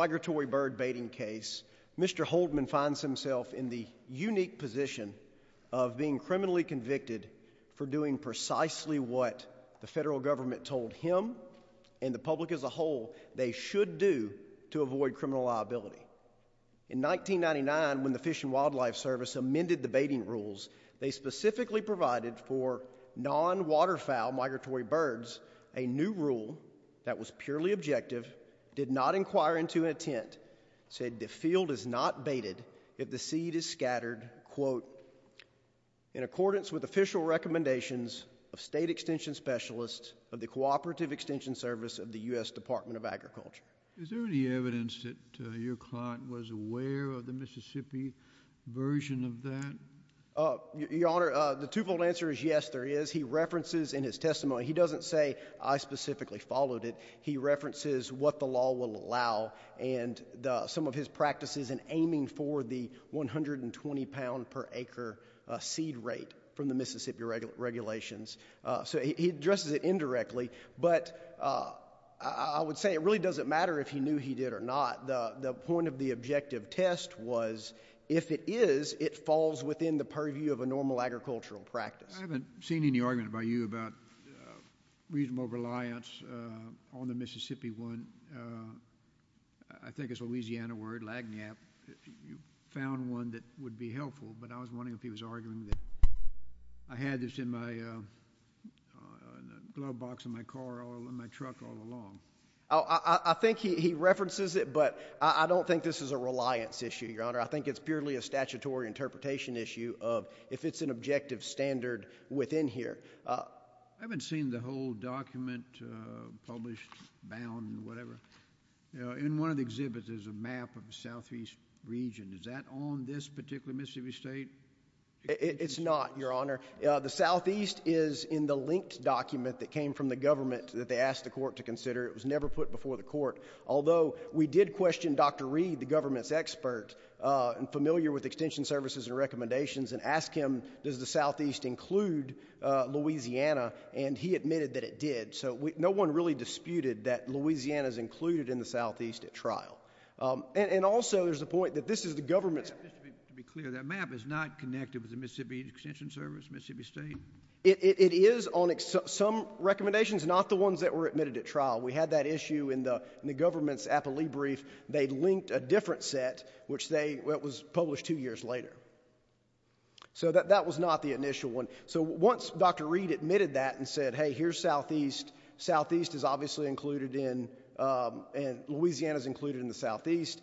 Migratory bird baiting case, Mr. Holdman finds himself in the unique position of being criminally convicted for doing precisely what the federal government told him and the public as a whole they should do to avoid criminal liability. In 1999, when the Fish and Wildlife Service amended the baiting rules, they specifically provided for non-waterfowl migratory birds a new rule that was purely objective, did not inquire into intent, said the field is not baited if the seed is scattered, quote, in accordance with official recommendations of state extension specialists of the Cooperative Extension Service of the U.S. Department of Agriculture. Is there any evidence that your client was aware of the Mississippi version of that? Your Honor, the twofold answer is yes there is. He references in his testimony, he doesn't say I specifically followed it, he references what the law will allow and some of his practices in aiming for the 120 pound per acre seed rate from the Mississippi regulations. So he addresses it indirectly, but I would say it really doesn't matter if he knew he did or not. The point of the objective test was if it is, it falls within the purview of a normal agricultural practice. I haven't seen any argument by you about reasonable reliance on the Mississippi one. I think it's a Louisiana word, lag nap. You found one that would be helpful, but I was wondering if he was arguing that I had this in my glove box in my car or in my truck all along. I think he references it, but I don't think this is a reliance issue, Your Honor. I think it's purely a statutory interpretation issue of if it's an objective standard within here. I haven't seen the whole document published, bound, whatever. In one of the exhibits, there's a map of the southeast region. Is that on this particular Mississippi state? It's not, Your Honor. The southeast is in the linked document that came from the government that they asked the court to consider. It was never put before the court. Although, we did question Dr. Reed, the government's expert, and familiar with extension services and recommendations, and ask him, does the southeast include Louisiana? He admitted that it did. No one really disputed that Louisiana is included in the southeast at trial. Also, there's a point that this is the government's... Just to be clear, that map is not connected with the Mississippi extension service, Mississippi state? It is on some recommendations, not the ones that were admitted at trial. We had that issue in the government's appellee brief. They linked a different set, which was published two years later. That was not the initial one. Once Dr. Reed admitted that and said, hey, here's southeast. Southeast is obviously included in... Louisiana's included in the southeast.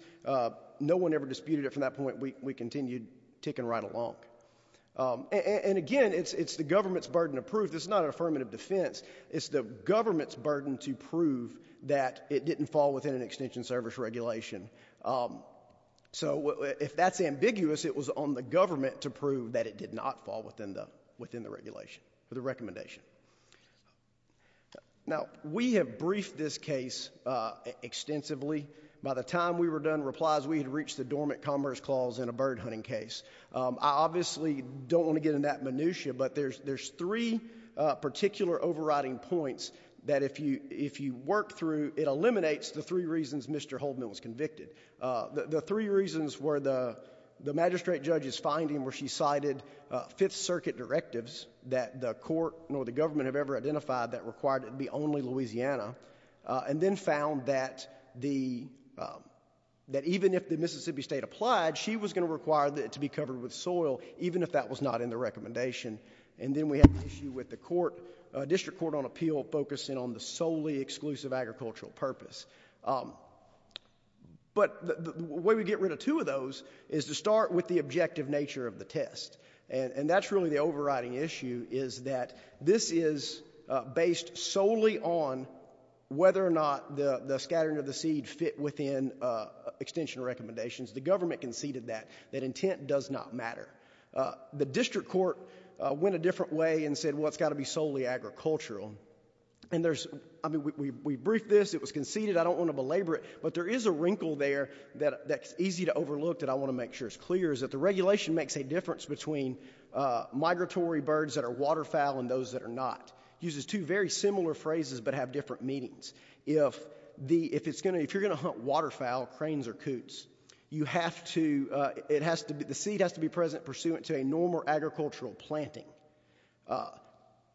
No one ever disputed it from that point. We continued ticking right along. Again, it's the government's burden of proof. This is not an affirmative defense. It's the government's burden to prove that it didn't fall within an extension service regulation. If that's ambiguous, it was on the government to prove that it did not fall within the regulation, the recommendation. We have briefed this case extensively. By the time we were done, replies, we had reached the dormant commerce clause in a bird hunting case. I obviously don't want to get in that minutiae, but there's three particular overriding points that if you work through, it eliminates the three reasons Mr. Holdman was convicted. The three reasons were the magistrate judge's finding where she cited Fifth Circuit directives that the court or the government have ever identified that required it to be only Louisiana, and then found that even if the Mississippi State applied, she was going to require it to be covered with soil, even if that was not in the recommendation. Then we have an issue with the District Court on Appeal focusing on the solely exclusive agricultural purpose. The way we get rid of two of those is to start with the objective nature of the test. That's really the overriding issue, is that this is based solely on whether or not the scattering of the seed fit within extension recommendations. The government conceded that. That intent does not matter. The District Court went a different way and said, well, it's got to be solely agricultural. We briefed this. It was conceded. I don't want to belabor it, but there is a wrinkle there that's easy to overlook that I want to make sure is clear, is that the regulation makes a difference between migratory birds that are waterfowl and those that are not. It uses two very similar phrases, but have different meanings. If you're going to hunt waterfowl, cranes or coots, the seed has to be present pursuant to a normal agricultural planting.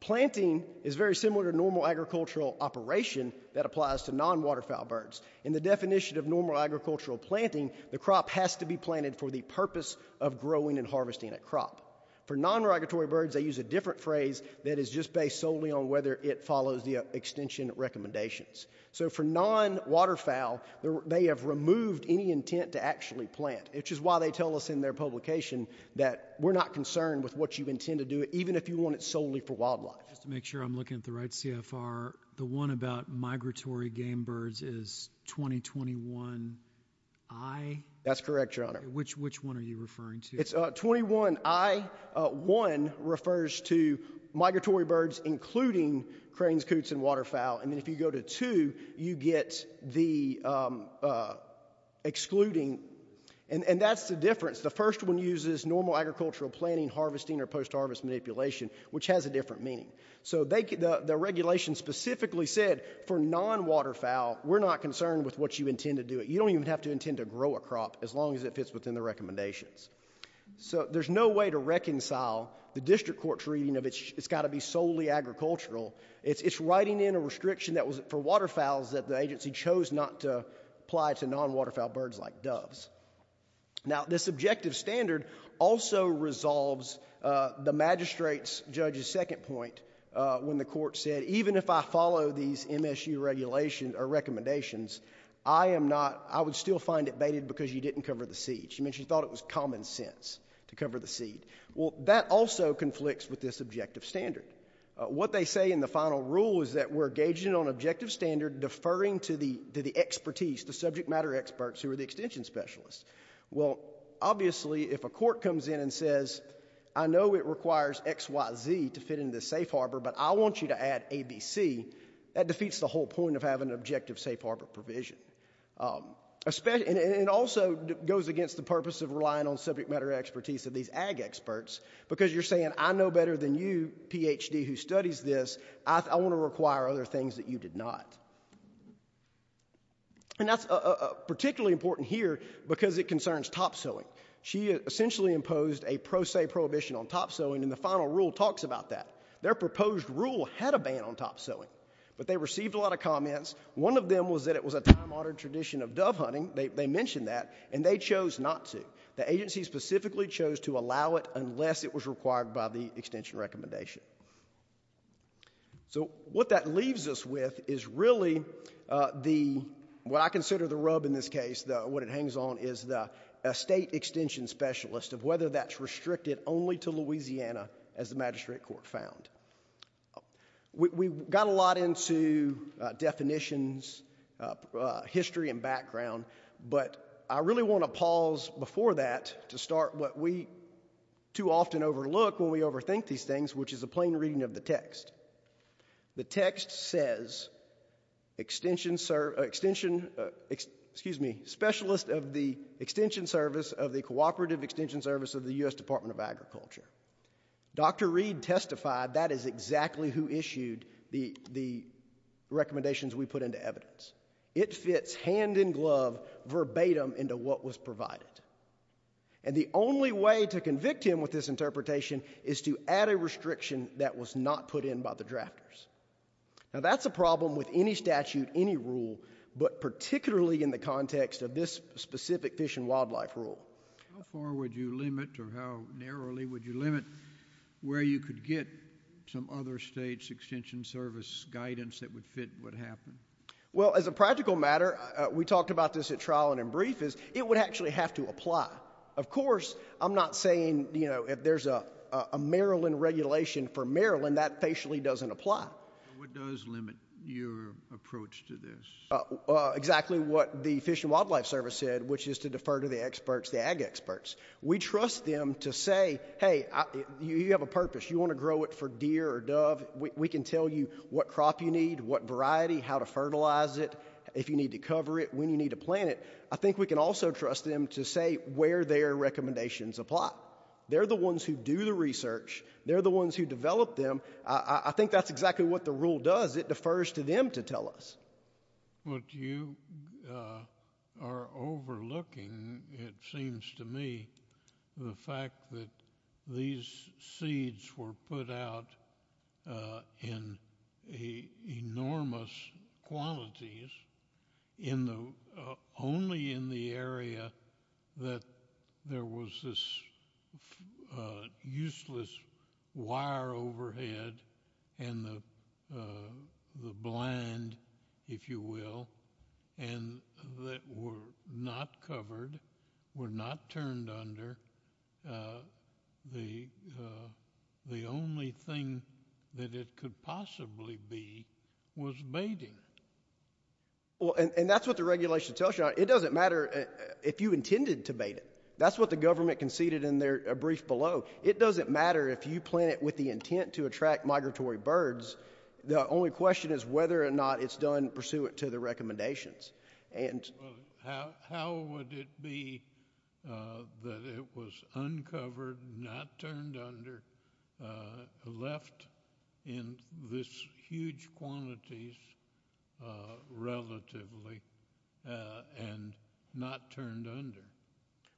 Planting is very similar to normal agricultural operation that applies to non-waterfowl birds. In the definition of normal agricultural planting, the crop has to be planted for the purpose of growing and harvesting a crop. For non-migratory birds, they use a different phrase that is just based solely on whether it follows the extension recommendations. For non-waterfowl, they have removed any intent to actually plant, which is why they tell us in their publication that we're not concerned with what you intend to do, even if you want it solely for wildlife. Just to make sure I'm looking at the right CFR, the one about migratory game birds is 2021I? That's correct, Your Honor. Which one are you referring to? It's 21I. One refers to migratory birds, including cranes, coots, and waterfowl, and if you go to two, you get the excluding, and that's the difference. The first one uses normal agricultural planting, harvesting, or post-harvest manipulation, which has a different meaning. The regulation specifically said for non-waterfowl, we're not concerned with what you intend to do. You don't even have to intend to grow a crop as long as it fits within the recommendations. There's no way to reconcile the district court's reading of it's got to be solely agricultural. It's writing in a restriction for waterfowls that the agency chose not to apply to non-waterfowl birds like doves. This objective standard also resolves the magistrate's judge's second point when the I would still find it baited because you didn't cover the seed. She thought it was common sense to cover the seed. That also conflicts with this objective standard. What they say in the final rule is that we're engaging on objective standard, deferring to the expertise, the subject matter experts who are the extension specialists. Well, obviously, if a court comes in and says, I know it requires XYZ to fit in the safe harbor, but I want you to add ABC, that defeats the whole point of having an objective safe harbor provision. It also goes against the purpose of relying on subject matter expertise of these ag experts because you're saying, I know better than you, PhD, who studies this, I want to require other things that you did not. That's particularly important here because it concerns top-sowing. She essentially imposed a pro se prohibition on top-sowing and the final rule talks about that. Their proposed rule had a ban on top-sowing, but they received a lot of comments. One of them was that it was a time-honored tradition of dove hunting. They mentioned that, and they chose not to. The agency specifically chose to allow it unless it was required by the extension recommendation. What that leaves us with is really what I consider the rub in this case. What it hangs on is the state extension specialist of whether that's restricted only to Louisiana as the magistrate court found. We got a lot into definitions, history, and background, but I really want to pause before that to start what we too often overlook when we overthink these things, which is a plain reading of the text. The text says, specialist of the extension service of the cooperative extension service Dr. Reed testified that is exactly who issued the recommendations we put into evidence. It fits hand-in-glove verbatim into what was provided. The only way to convict him with this interpretation is to add a restriction that was not put in by the drafters. That's a problem with any statute, any rule, but particularly in the context of this specific fish and wildlife rule. How far would you limit or how narrowly would you limit where you could get some other state's extension service guidance that would fit what happened? As a practical matter, we talked about this at trial and in brief, is it would actually have to apply. Of course, I'm not saying if there's a Maryland regulation for Maryland, that facially doesn't apply. What does limit your approach to this? Exactly what the fish and wildlife service said, which is to defer to the experts, the ag experts. We trust them to say, hey, you have a purpose. You want to grow it for deer or dove, we can tell you what crop you need, what variety, how to fertilize it, if you need to cover it, when you need to plant it. I think we can also trust them to say where their recommendations apply. They're the ones who do the research. They're the ones who develop them. I think that's exactly what the rule does. It defers to them to tell us. What you are overlooking, it seems to me, the fact that these seeds were put out in enormous quantities, only in the area that there was this useless wire overhead and the blind, if you will, and that were not covered, were not turned under. The only thing that it could possibly be was baiting. And that's what the regulation tells you. It doesn't matter if you intended to bait it. That's what the government conceded in their brief below. It doesn't matter if you plant it with the intent to attract migratory birds. The only question is whether or not it's done pursuant to the recommendations. How would it be that it was uncovered, not turned under, left in these huge quantities relatively, and not turned under?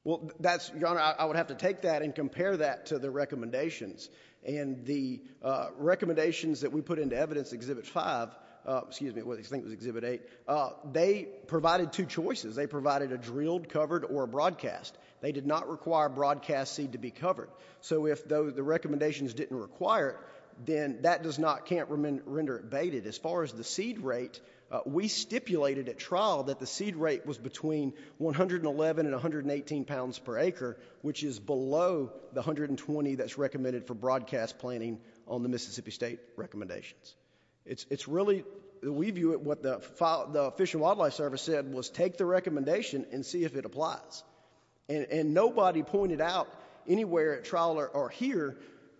Well, Your Honor, I would have to take that and compare that to the recommendations. And the recommendations that we put into evidence, Exhibit 5, excuse me, I think it was Exhibit 8, they provided two choices. They provided a drilled, covered, or a broadcast. They did not require broadcast seed to be covered. So if the recommendations didn't require it, then that does not, can't render it baited. As far as the seed rate, we stipulated at trial that the seed rate was between 111 and 118 pounds per acre, which is below the 120 that's recommended for broadcast planting on the Mississippi State recommendations. It's really, we view it, what the Fish and Wildlife Service said was take the recommendation and see if it applies. And nobody pointed out anywhere at trial or here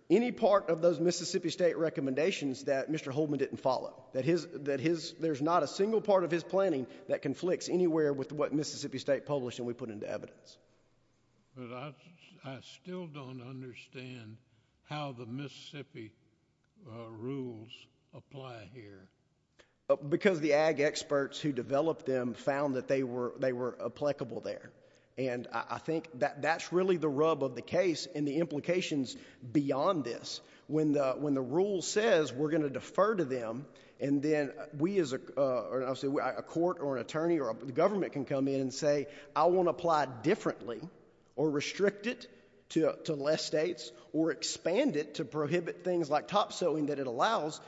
any part of those Mississippi State recommendations that Mr. Holdman didn't follow, that there's not a single part of his planning that conflicts anywhere with what Mississippi State published and we put into evidence. But I still don't understand how the Mississippi rules apply here. Because the ag experts who developed them found that they were applicable there. And I think that's really the rub of the case and the implications beyond this. When the rule says we're going to defer to them and then we as a court or an attorney or the government can come in and say I want to apply differently or restrict it to less states or expand it to prohibit things like top sowing that it allows,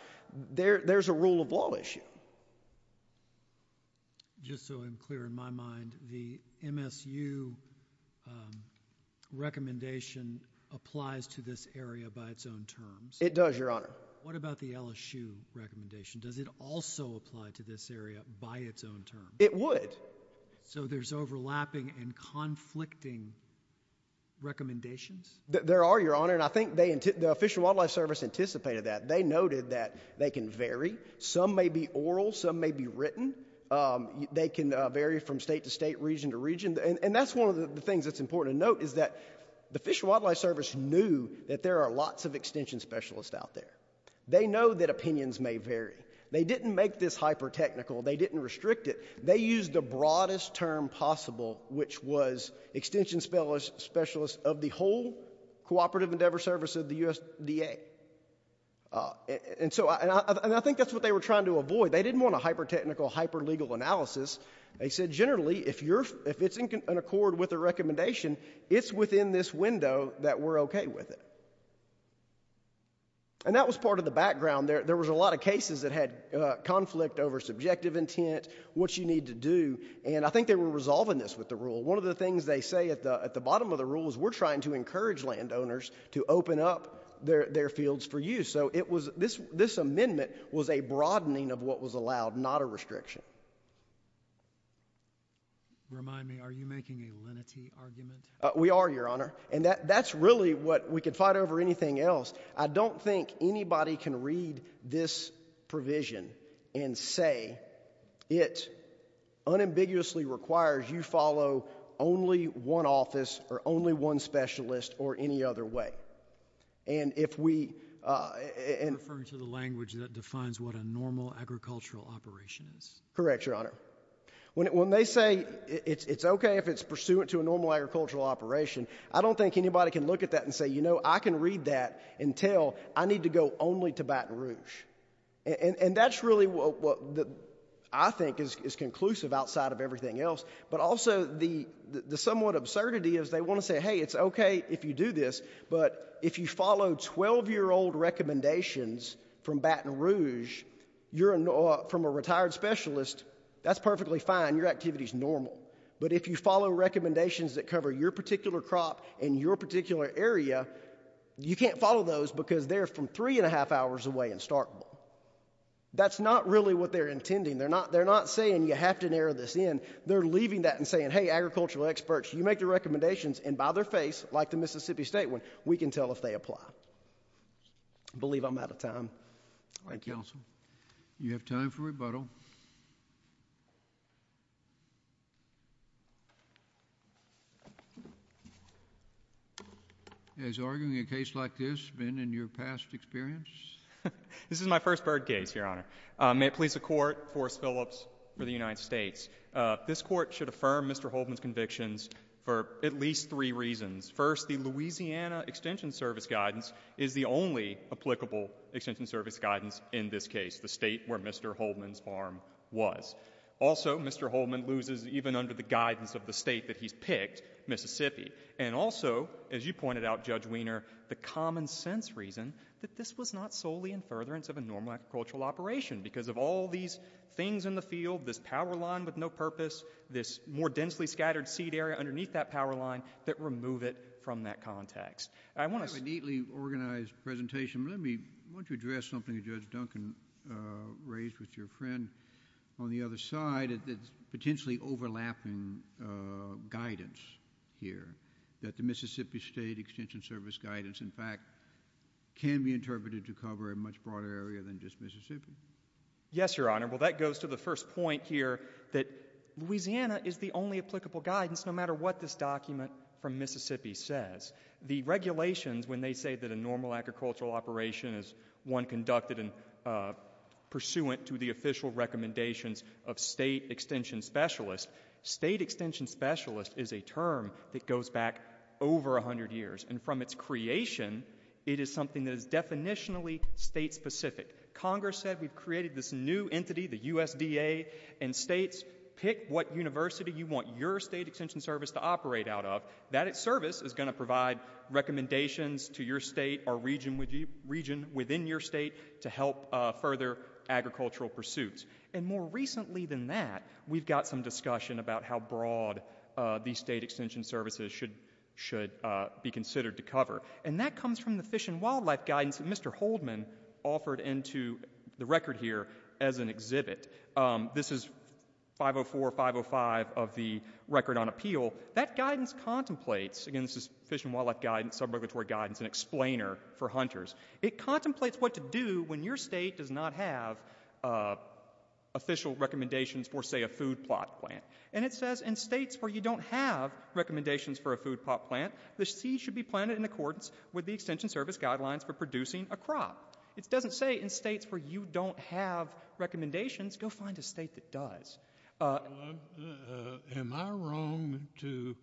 there's a rule of law issue. Just so I'm clear in my mind, the MSU recommendation applies to this area by its own terms? It does, Your Honor. What about the LSU recommendation? Does it also apply to this area by its own terms? It would. So there's overlapping and conflicting recommendations? There are, Your Honor. And I think the Fish and Wildlife Service anticipated that. They noted that they can vary. Some may be oral. Some may be written. They can vary from state to state, region to region. And that's one of the things that's important to note is that the Fish and Wildlife Service knew that there are lots of extension specialists out there. They know that opinions may vary. They didn't make this hyper technical. They didn't restrict it. They used the broadest term possible, which was extension specialist of the whole Cooperative Endeavor Service of the USDA. And I think that's what they were trying to avoid. They didn't want a hyper technical, hyper legal analysis. They said generally if it's in accord with a recommendation, it's within this window that we're okay with it. And that was part of the background. There was a lot of cases that had conflict over subjective intent, what you need to do. And I think they were resolving this with the rule. One of the things they say at the bottom of the rule is we're trying to encourage landowners to open up their fields for use. So this amendment was a broadening of what was allowed, not a restriction. Remind me, are you making a lenity argument? We are, Your Honor. And that's really what we could fight over anything else. I don't think anybody can read this provision and say it unambiguously requires you follow only one office or only one specialist or any other way. You're referring to the language that defines what a normal agricultural operation is. Correct, Your Honor. When they say it's okay if it's pursuant to a normal agricultural operation, I don't think anybody can look at that and say, you know, I can read that and tell I need to go only to Baton Rouge. And that's really what I think is conclusive outside of everything else. But also the somewhat absurdity is they want to say, hey, it's okay if you do this, but if you follow 12-year-old recommendations from Baton Rouge, you're from a retired specialist, that's perfectly fine, your activity is normal. But if you follow recommendations that cover your particular crop and your particular area, you can't follow those because they're from three and a half hours away in Starkville. That's not really what they're intending. They're not saying you have to narrow this in. They're leaving that and saying, hey, agricultural experts, you make the recommendations, and by their face, like the Mississippi State one, we can tell if they apply. I believe I'm out of time. Thank you. Thank you, Counsel. You have time for rebuttal. Has arguing a case like this been in your past experience? This is my first bird case, Your Honor. May it please the Court, Forrest Phillips for the United States. This Court should affirm Mr. Holtman's convictions for at least three reasons. First, the Louisiana Extension Service guidance is the only applicable Extension Service guidance in this case, the state where Mr. Holtman's farm was. Also, Mr. Holtman loses even under the guidance of the state that he's picked, Mississippi. And also, as you pointed out, Judge Wiener, the common sense reason that this was not solely in furtherance of a normal agricultural operation because of all these things in the field, this power line with no purpose, this more densely scattered seed area underneath that power line that remove it from that context. I have a neatly organized presentation. Why don't you address something that Judge Duncan raised with your friend on the other side that's potentially overlapping guidance here, that the Mississippi State Extension Service guidance, in fact, can be interpreted to cover a much broader area than just Mississippi. Yes, Your Honor. Well, that goes to the first point here that Louisiana is the only applicable guidance no matter what this document from Mississippi says. The regulations, when they say that a normal agricultural operation is one conducted pursuant to the official recommendations of state extension specialists, state extension specialist is a term that goes back over 100 years. And from its creation, it is something that is definitionally state-specific. Congress said we've created this new entity, the USDA, and states pick what university you want your state extension service to operate out of. That service is going to provide recommendations to your state or region within your state to help further agricultural pursuits. And more recently than that, we've got some discussion about how broad these state extension services should be considered to cover. And that comes from the Fish and Wildlife guidance that Mr. Holdman offered into the record here as an exhibit. This is 504-505 of the Record on Appeal. That guidance contemplates, again this is Fish and Wildlife guidance, sub-regulatory guidance, an explainer for hunters. It contemplates what to do when your state does not have official recommendations for, say, a food plot plant. And it says in states where you don't have recommendations for a food plot plant, the seed should be planted in accordance with the extension service guidelines for producing a crop. It doesn't say in states where you don't have recommendations, go find a state that does. Am I wrong to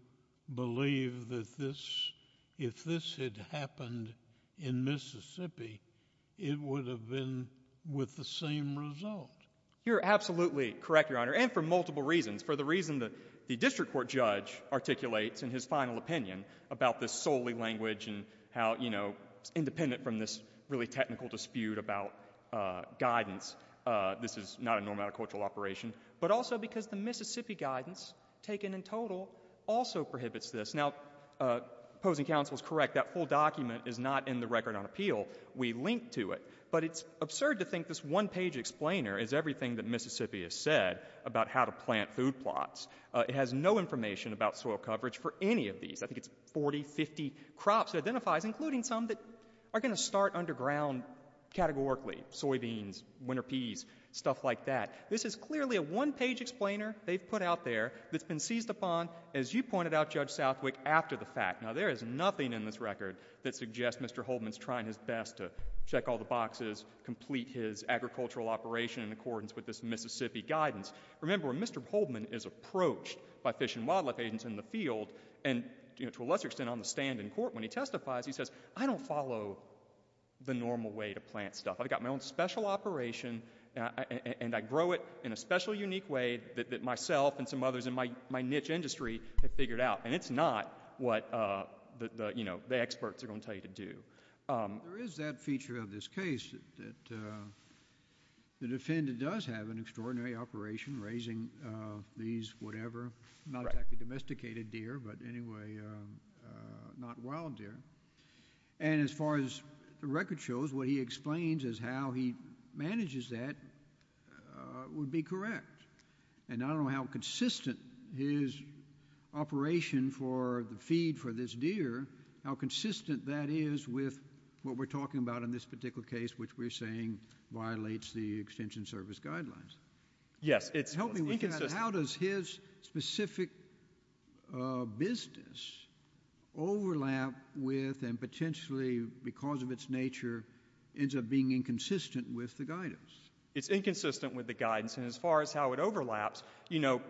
believe that this, if this had happened in Mississippi, it would have been with the same result? You're absolutely correct, Your Honor, and for multiple reasons. For the reason that the district court judge articulates in his final opinion about this solely language and how, you know, independent from this really technical dispute about guidance, this is not a normal agricultural operation. But also because the Mississippi guidance, taken in total, also prohibits this. Now, opposing counsel is correct. That full document is not in the record on appeal. We link to it. But it's absurd to think this one-page explainer is everything that Mississippi has said about how to plant food plots. It has no information about soil coverage for any of these. I think it's 40, 50 crops it identifies, including some that are going to start underground categorically. Soybeans, winter peas, stuff like that. This is clearly a one-page explainer they've put out there that's been seized upon, as you pointed out, Judge Southwick, after the fact. Now, there is nothing in this record that suggests Mr. Holdman's trying his best to check all the boxes, complete his agricultural operation in accordance with this Mississippi guidance. Remember, when Mr. Holdman is approached by fish and wildlife agents in the field, and, you know, to a lesser extent on the stand in court, when he testifies, he says, I don't follow the normal way to plant stuff. I've got my own special operation, and I grow it in a special, unique way that myself and some others in my niche industry have figured out. And it's not what the experts are going to tell you to do. There is that feature of this case that the defendant does have an extraordinary operation raising these whatever, not exactly domesticated deer, but anyway, not wild deer. And as far as the record shows, what he explains as how he manages that would be correct. And I don't know how consistent his operation for the feed for this deer, how consistent that is with what we're talking about in this particular case, which we're saying violates the Extension Service guidelines. Yes, it's inconsistent. Help me with that. How does his specific business overlap with and potentially, because of its nature, ends up being inconsistent with the guidance? It's inconsistent with the guidance. And as far as how it overlaps,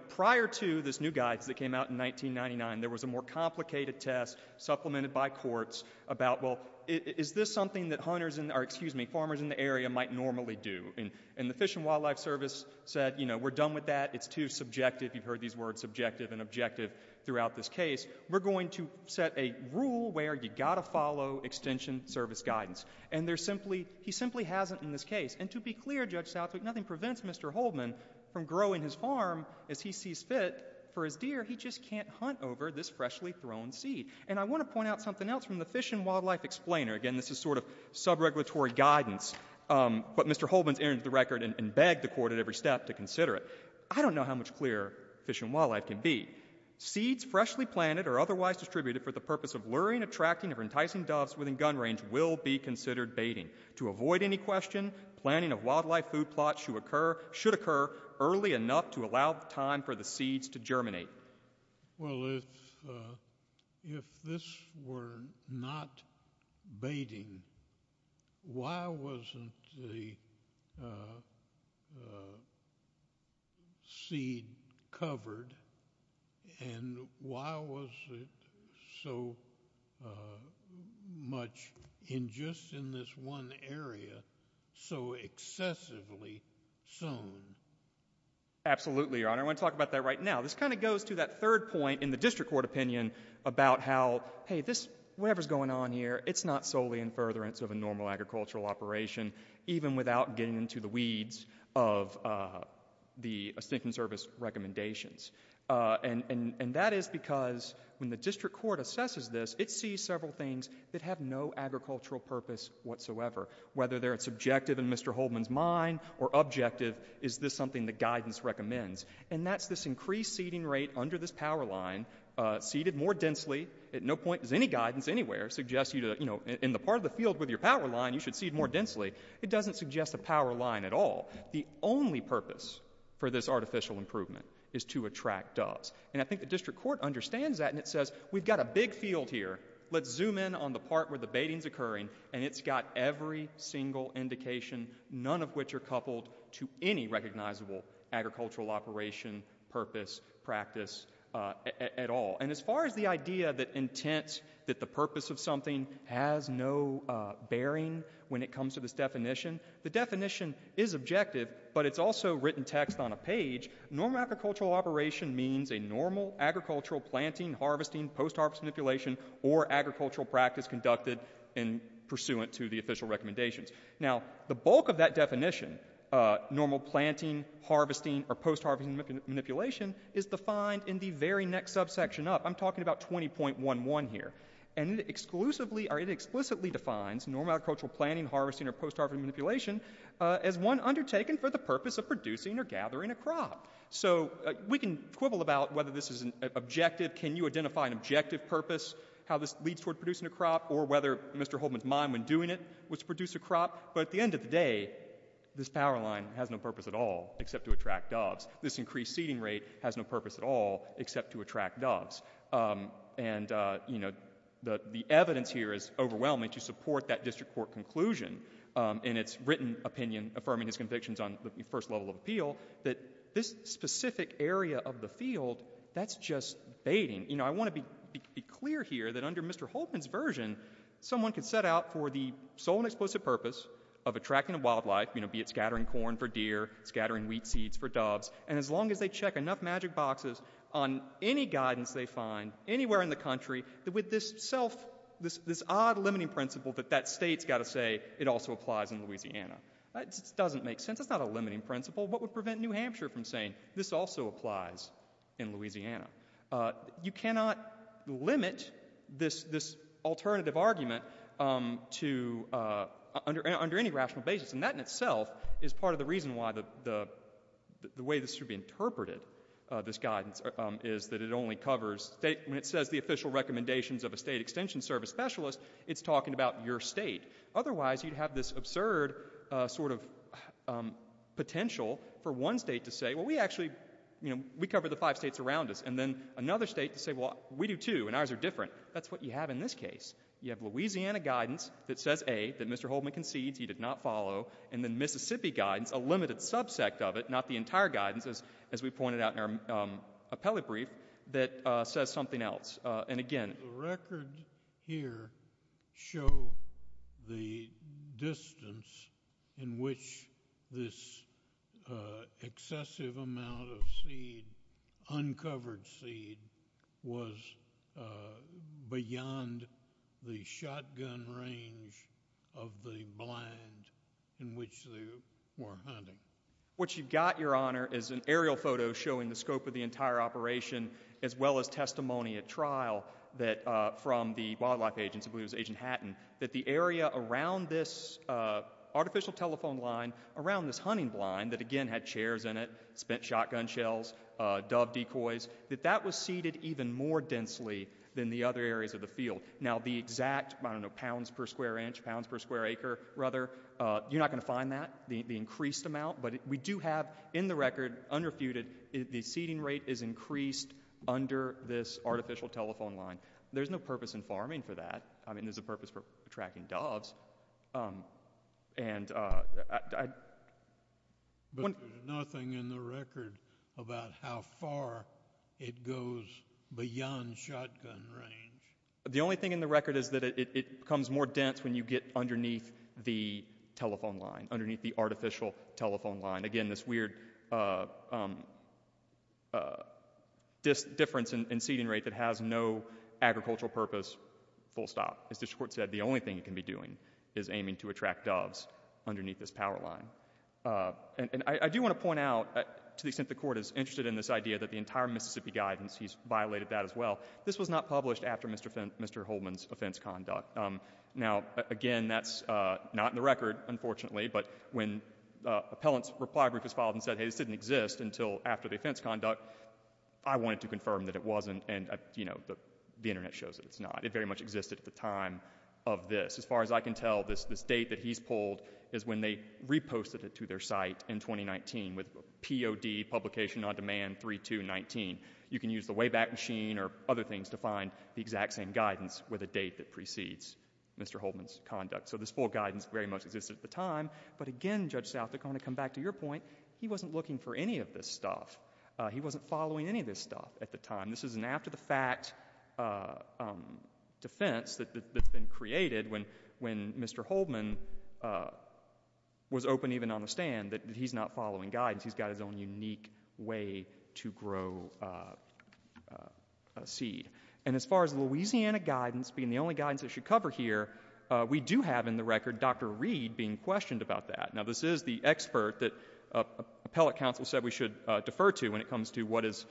prior to this new guidance that came out in 1999, there was a more complicated test supplemented by courts about, well, is this something that farmers in the area might normally do? And the Fish and Wildlife Service said, we're done with that, it's too subjective. You've heard these words, subjective and objective, throughout this case. We're going to set a rule where you've got to follow Extension Service guidance. And he simply hasn't in this case. And to be clear, Judge Southwick, nothing prevents Mr. Holdman from growing his farm as he sees fit for his deer. He just can't hunt over this freshly thrown seed. And I want to point out something else from the Fish and Wildlife explainer. Again, this is sort of sub-regulatory guidance, but Mr. Holdman's entered the record and begged the court at every step to consider it. I don't know how much clearer Fish and Wildlife can be. Seeds freshly planted or otherwise distributed for the purpose of luring, attracting, or enticing doves within gun range will be considered baiting. To avoid any question, planning of wildlife food plots should occur early enough to allow time for the seeds to germinate. Well, if this were not baiting, why wasn't the seed covered? And why was it so much in just in this one area so excessively sown? Absolutely, Your Honor. I want to talk about that right now. This kind of goes to that third point in the district court opinion about how, hey, whatever's going on here, it's not solely in furtherance of a normal agricultural operation, even without getting into the weeds of the Extinction Service recommendations. And that is because when the district court assesses this, it sees several things that have no agricultural purpose whatsoever. Whether they're subjective in Mr. Holdman's mind or objective, is this something the guidance recommends? And that's this increased seeding rate under this power line, seeded more densely. At no point does any guidance anywhere suggest you to, you know, in the part of the field with your power line, you should seed more densely. It doesn't suggest a power line at all. The only purpose for this artificial improvement is to attract doves. And I think the district court understands that, and it says, we've got a big field here. Let's zoom in on the part where the baiting's occurring, and it's got every single indication, none of which are coupled to any recognizable agricultural operation purpose, practice, at all. And as far as the idea that intent, that the purpose of something has no bearing when it comes to this definition, the definition is objective, but it's also written text on a page. Normal agricultural operation means a normal agricultural planting, harvesting, post-harvest manipulation, or agricultural practice conducted pursuant to the official recommendations. Now, the bulk of that definition, normal planting, harvesting, or post-harvest manipulation is defined in the very next subsection up. I'm talking about 20.11 here. And it explicitly defines normal agricultural planting, harvesting, or post-harvest manipulation as one undertaken for the purpose of producing or gathering a crop. So we can quibble about whether this is an objective, can you identify an objective purpose, how this leads toward producing a crop, or whether Mr. Holdman's mind when doing it was to produce a crop, but at the end of the day, this power line has no purpose at all except to attract doves. This increased seeding rate has no purpose at all except to attract doves. And the evidence here is overwhelming to support that district court conclusion in its written opinion affirming its convictions on the first level of appeal that this specific area of the field, that's just baiting. I want to be clear here that under Mr. Holdman's version, someone can set out for the sole and explicit purpose of attracting a wildlife, be it scattering corn for deer, scattering wheat seeds for doves, and as long as they check enough magic boxes on any guidance they find anywhere in the country, with this self, this odd limiting principle that that state's got to say, it also applies in Louisiana. That doesn't make sense. That's not a limiting principle. What would prevent New Hampshire from saying, this also applies in Louisiana? You cannot limit this alternative argument to under any rational basis. And that in itself is part of the reason why the way this should be interpreted, this guidance, is that it only covers, when it says the official recommendations of a state extension service specialist, it's talking about your state. Otherwise you'd have this absurd sort of potential for one state to say, well we actually, we cover the five states around us. And then another state to say, well we do too and ours are different. That's what you have in this case. You have Louisiana guidance that says A, that Mr. Holdman concedes he did not follow, and then Mississippi guidance, a limited subsect of it, not the entire guidance, as we pointed out in our appellate brief, that says something else. And again... The record here show the distance in which this excessive amount of seed, uncovered seed, was beyond the shotgun range of the blind in which they were hunting. What you've got, Your Honor, is an aerial photo showing the scope of the entire operation as well as testimony at trial that, from the wildlife agents, I believe it was Agent Hatton, that the area around this artificial telephone line, around this hunting blind, that again had chairs in it, shotgun shells, dove decoys, that that was seeded even more densely than the other areas of the field. Now the exact pounds per square inch, pounds per square acre, you're not going to find that, the increased amount, but we do have in the record, unrefuted, the seeding rate is increased under this artificial telephone line. There's no purpose in farming for that. There's a purpose for tracking doves. And... But there's nothing in the record about how far it goes beyond shotgun range. The only thing in the record is that it becomes more dense when you get underneath the telephone line, underneath the artificial telephone line. Again, this weird difference in seeding rate that has no agricultural purpose, full stop. As the Court said, the only thing it can be doing is aiming to attract doves underneath this power line. And I do want to point out to the extent the Court is interested in this idea that the entire Mississippi Guidance, he's violated that as well, this was not published after Mr. Holman's offense conduct. Now, again, that's not in the record, unfortunately, but when Appellant's Reply Group has filed and said, hey, this didn't exist until after the offense conduct, I wanted to confirm that it wasn't and, you know, the Internet shows that it's not. It very much existed at the time of this. As far as I can tell, this date that he's pulled is when they reposted it to their site in 2019 with POD publication on demand 3-2-19. You can use the Wayback Machine or other things to find the exact same guidance with a date that precedes Mr. Holman's conduct. So this full guidance very much existed at the time, but again, Judge South, to kind of come back to your point, he wasn't looking for any of this stuff. He wasn't following any of this stuff at the time. This is an after-the-fact defense that's been created when Mr. Holman was open, even on the stand, that he's not following guidance. He's got his own unique way to grow a seed. And as far as Louisiana guidance being the only guidance that should cover here, we do have in the record Dr. Reed being questioned about that. Now, this is the expert that Appellate Counsel said we should defer to when it comes to what is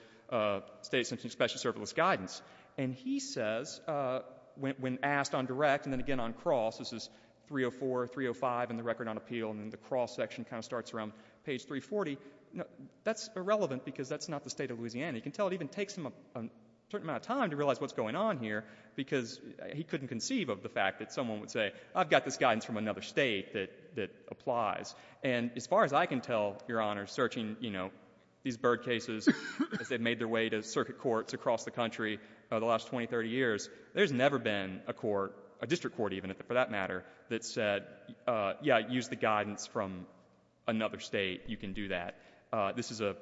state-assessing special-service guidance. And he says when asked on direct and then again on cross, this is 304, 305 in the record on appeal, and then the cross section kind of starts around page 340, that's irrelevant because that's not the state of Louisiana. You can tell it even takes him a certain amount of time to realize what's going on here because he couldn't conceive of the fact that someone would say, I've got this guidance from another state that applies. And as far as I can tell, Your Honor, searching, you know, these bird cases as they've made their way to circuit courts across the country the last 20, 30 years, there's never been a court, a district court even, for that matter, that said, yeah, use the guidance from another state. You can do that. This is a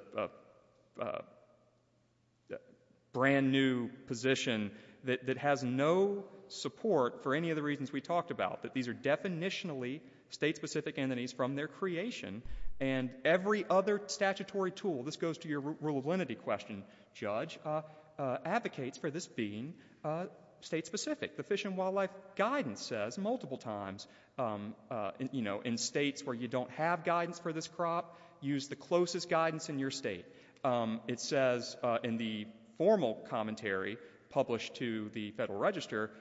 brand new position that has no support for any of the reasons we talked about, that these are definitionally state-specific entities from their creation, and every other statutory tool, this goes to your rule of lenity question, Judge, advocates for this being state-specific. The Fish and Wildlife Guidance says multiple times, in states where you don't have guidance for this crop, use the closest guidance in your state. It says in the formal commentary published to the Federal Register,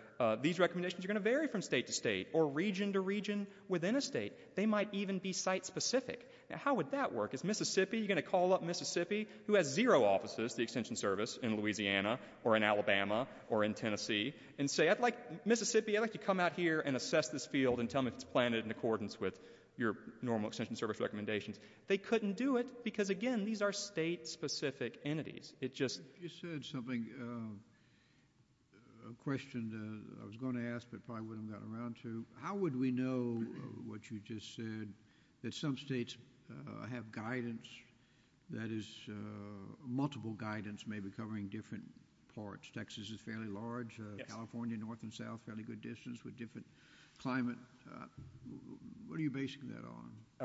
these recommendations are going to vary from state to state or region to region within a state. They might even be site-specific. How would that work? If you had a state entity who has zero offices, the Extension Service, in Louisiana or in Alabama or in Tennessee, and say, Mississippi, I'd like you to come out here and assess this field and tell me if it's planted in accordance with your normal Extension Service recommendations, they couldn't do it because, again, these are state-specific entities. It just... You said something, a question I was going to ask but probably wouldn't have gotten around to. How would we know what you just said? That some states have guidance that is...multiple guidance may be covering different parts. Texas is fairly large. California, north and south, fairly good distance with different climate... What are you basing that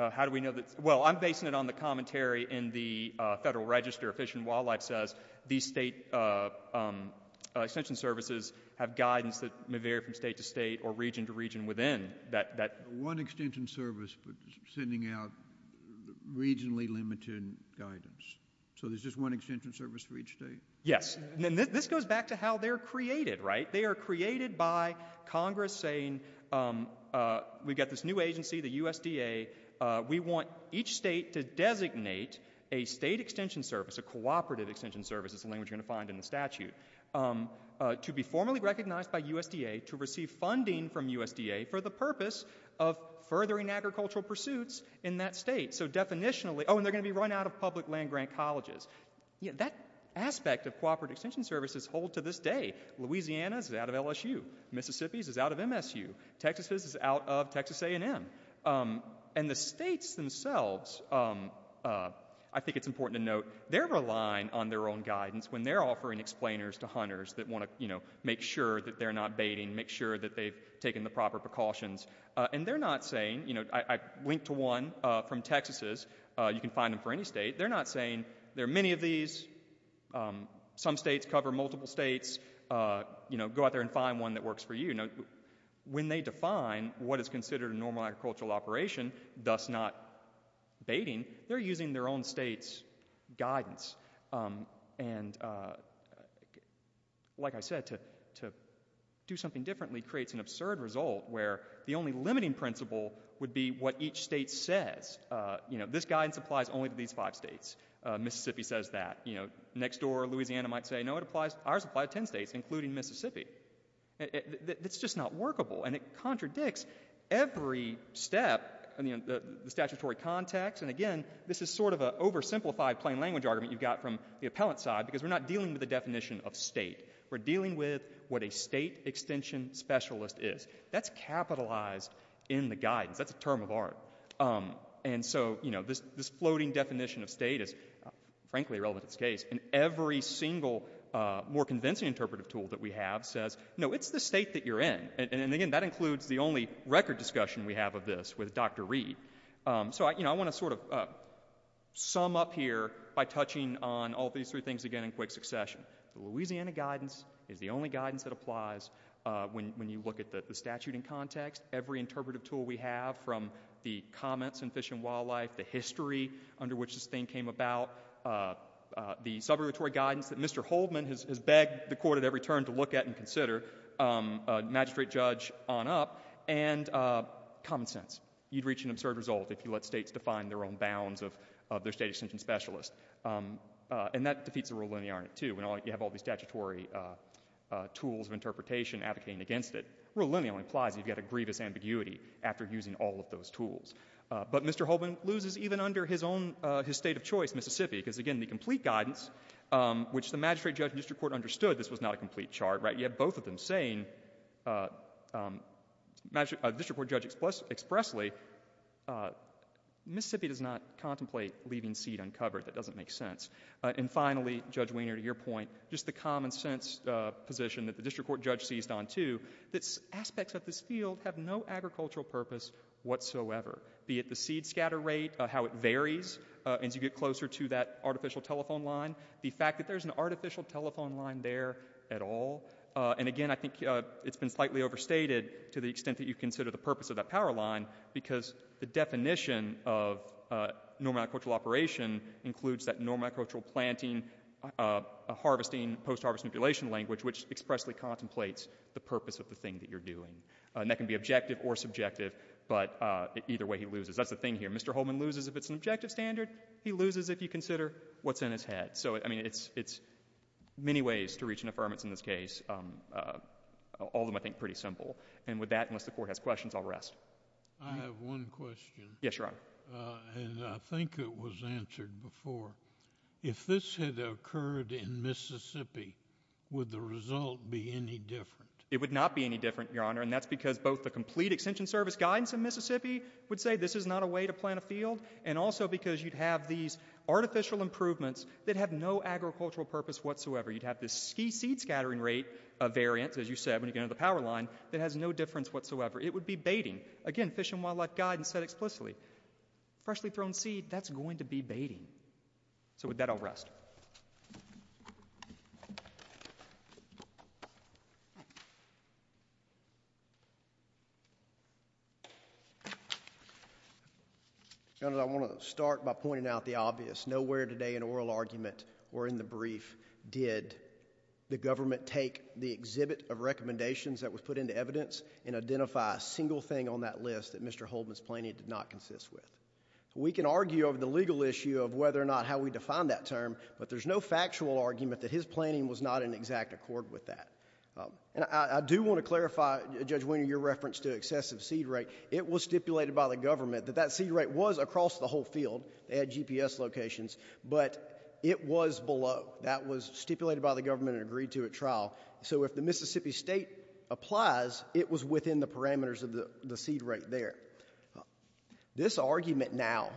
on? How do we know that? Well, I'm basing it on the commentary in the Federal Register. Fish and Wildlife says these state Extension Services have guidance that may vary from state to state or region to region within that...One Extension Service sending out regionally limited guidance. So there's just one Extension Service for each state? Yes. This goes back to how they're created, right? They are created by Congress saying we've got this new agency, the USDA, we want each state to designate a state Extension Service, a cooperative Extension Service, is the language you're going to find in the statute, to be formally recognized by USDA to receive funding from USDA for the purpose of furthering agricultural pursuits in that state. So definitionally...Oh, and they're going to be run out of public land grant colleges. That aspect of cooperative Extension Services hold to this day. Louisiana is out of LSU. Mississippi is out of MSU. Texas is out of Texas A&M. And the states themselves, I think it's important to note, they're relying on their own guidance when they're offering explainers to hunters that want to make sure that they're not baiting, make sure that they've taken the proper precautions. And they're not saying, I linked to one from Texas's, you can find them for any state, they're not saying there are many of these, some states cover multiple states, go out there and find one that works for you. When they define what is considered a normal agricultural operation, thus not baiting, they're using their own state's guidance. And like I said, to do something differently creates an absurd result where the only limiting principle would be what each state says. This guidance applies only to these five states. Mississippi says that. Next door Louisiana might say, no, ours apply to ten states, including Mississippi. It's just not workable, and it contradicts every step, the statutory context, and again, this is sort of an oversimplified plain language argument you've got from the appellate side, because we're not dealing with the definition of state. We're dealing with what a state extension specialist is. That's capitalized in the guidance. That's a term of art. And so, you know, this floating definition of state is frankly irrelevant in this case. And every single more convincing interpretive tool that we have says, no, it's the state that you're in. And again, that includes the only record discussion we have of this with Dr. Reed. So I want to sort of end here by touching on all these three things again in quick succession. Louisiana guidance is the only guidance that applies when you look at the statute in context. Every interpretive tool we have, from the comments in Fish and Wildlife, the history under which this thing came about, the subrogatory guidance that Mr. Holdman has begged the court at every turn to look at and consider, magistrate judge on up, and common sense. You'd reach an absurd result if you let states define their own bounds of their state extension specialist. And that defeats the rule of linearity, too. You have all these statutory tools of interpretation advocating against it. Rule of linearity only applies if you've got a grievous ambiguity after using all of those tools. But Mr. Holdman loses even under his own state of choice, Mississippi, because again, the complete guidance, which the magistrate judge and district court understood this was not a complete chart, right? You have both of them saying district court judge expressly Mississippi does not contemplate leaving seed uncovered. That doesn't make sense. And finally, Judge Wiener, to your point, just the common sense position that the district court judge seized on, too, aspects of this field have no agricultural purpose whatsoever. Be it the seed scatter rate, how it varies as you get closer to that artificial telephone line, the fact that there's an artificial telephone line there at all, and again, I think it's been slightly overstated to the extent that you consider the purpose of that power line because the definition of normal agricultural operation includes that normal agricultural planting harvesting post-harvest manipulation language, which expressly contemplates the purpose of the thing that you're doing. And that can be objective or subjective, but either way he loses. That's the thing here. Mr. Holdman loses if it's an objective standard, he loses if you consider what's in his head. So, I mean, it's many ways to reach an affirmance in this case. All of them, I think, pretty simple. And with that, I guess the Court has questions. I'll rest. I have one question. Yes, Your Honor. And I think it was answered before. If this had occurred in Mississippi, would the result be any different? It would not be any different, Your Honor, and that's because both the complete extension service guidance in Mississippi would say this is not a way to plant a field, and also because you'd have these artificial improvements that have no agricultural purpose whatsoever. You'd have this key seed scattering rate variance, as you said, when you get under the power line, that has no difference whatsoever. It would be baiting. Again, Fish and Wildlife guidance said explicitly freshly thrown seed, that's going to be baiting. So with that, I'll rest. Your Honor, I want to start by pointing out the obvious. Nowhere today in oral argument or in the brief did the judge make any recommendations that was put into evidence and identify a single thing on that list that Mr. Holman's planning did not consist with. We can argue over the legal issue of whether or not how we define that term, but there's no factual argument that his planning was not in exact accord with that. And I do want to clarify, Judge Wiener, your reference to excessive seed rate. It was stipulated by the government that that seed rate was across the whole field. They had GPS locations, but it was within the parameters of the seed rate there. This argument now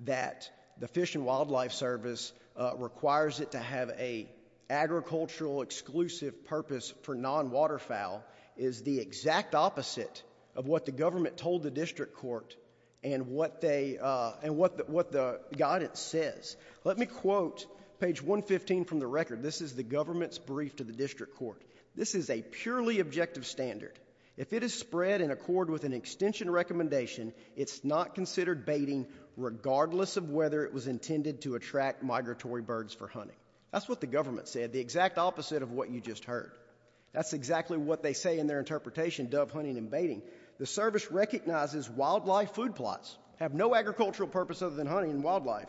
that the Fish and Wildlife Service requires it to have a agricultural exclusive purpose for non- waterfowl is the exact opposite of what the government told the District Court and what the guidance says. Let me quote page 115 from the record. This is the government's brief to the District Court. This is a purely objective standard. If it is spread in accord with an extension recommendation, it's not considered baiting regardless of whether it was intended to attract migratory birds for hunting. That's what the government said, the exact opposite of what you just heard. That's exactly what they say in their interpretation of hunting and baiting. The service recognizes wildlife food plots have no agricultural purpose other than hunting and wildlife.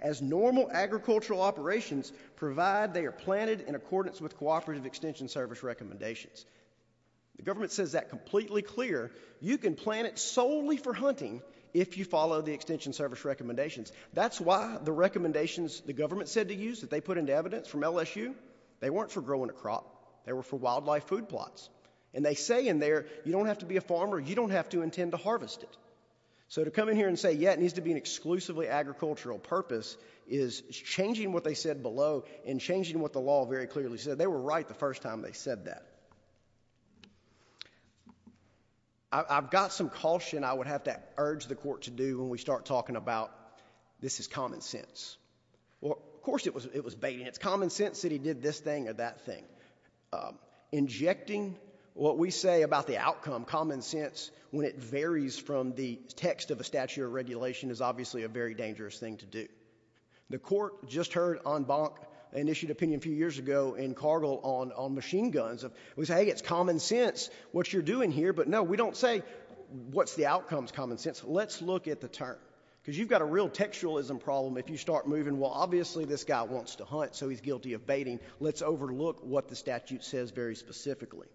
As normal agricultural operations provide, they are planted in accordance with cooperative extension service recommendations. The government says that completely clear. You can plant it solely for hunting if you follow the extension service recommendations. That's why the recommendations the government said to use that they put into evidence from LSU, they weren't for growing a crop. They were for wildlife food plots. They say in there you don't have to be a farmer. You don't have to intend to harvest it. To come in here and say, yeah, it needs to be an exclusively agricultural purpose is changing what they said below and changing what the law very clearly said. They were right the first time they said that. I've got some caution I would have to urge the court to do when we start talking about, this is common sense. Of course it was baiting. It's common sense that he did this thing or that thing. Injecting what we say about the outcome, common sense, when it varies from the text of a statute of regulation is obviously a very specific term. The court just heard on Bonk an issued opinion a few years ago in Cargill on machine guns. We say it's common sense what you're doing here, but no, we don't say what's the outcome is common sense. Let's look at the term. You've got a real textualism problem if you start moving, well, obviously this guy wants to hunt so he's guilty of baiting. Let's overlook what the statute says very specifically.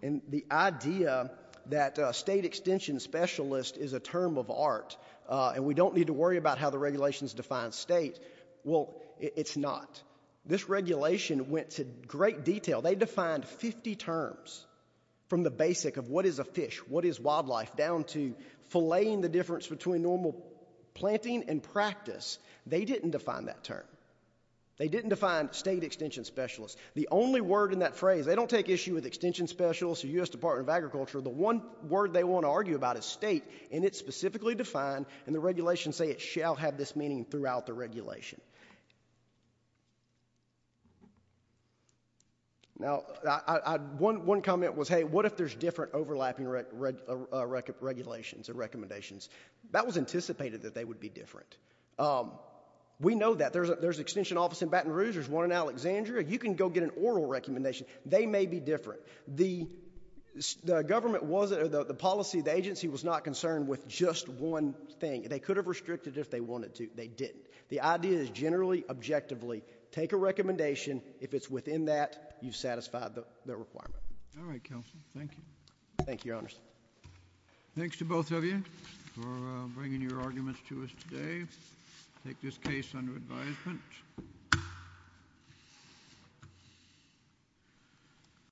The idea that state extension specialist is a term of art and we don't need to worry about how the regulations define state, well, it's not. This regulation went to great detail. They defined 50 terms from the basic of what is a fish, what is wildlife down to filleting the difference between normal planting and practice. They didn't define that term. They didn't define state extension specialist. The only word in that phrase, they don't take issue with extension specialist or U.S. Department of Agriculture. The one word they want to argue about is state and it's specifically defined and the regulations say it shall have this meaning throughout the regulation. Now, one comment was, hey, what if there's different overlapping regulations and recommendations? That was anticipated that they would be different. We know that. There's an extension office in Baton Rouge. There's one in Alexandria. You can go get an oral recommendation. They may be different. The policy, the agency was not concerned with just one thing. They could have restricted it if they wanted to. They didn't. The idea is generally objectively, take a recommendation if it's within that, you've satisfied the requirement. Thank you. Thanks to both of you for bringing your arguments to us today. I take this case under advisement.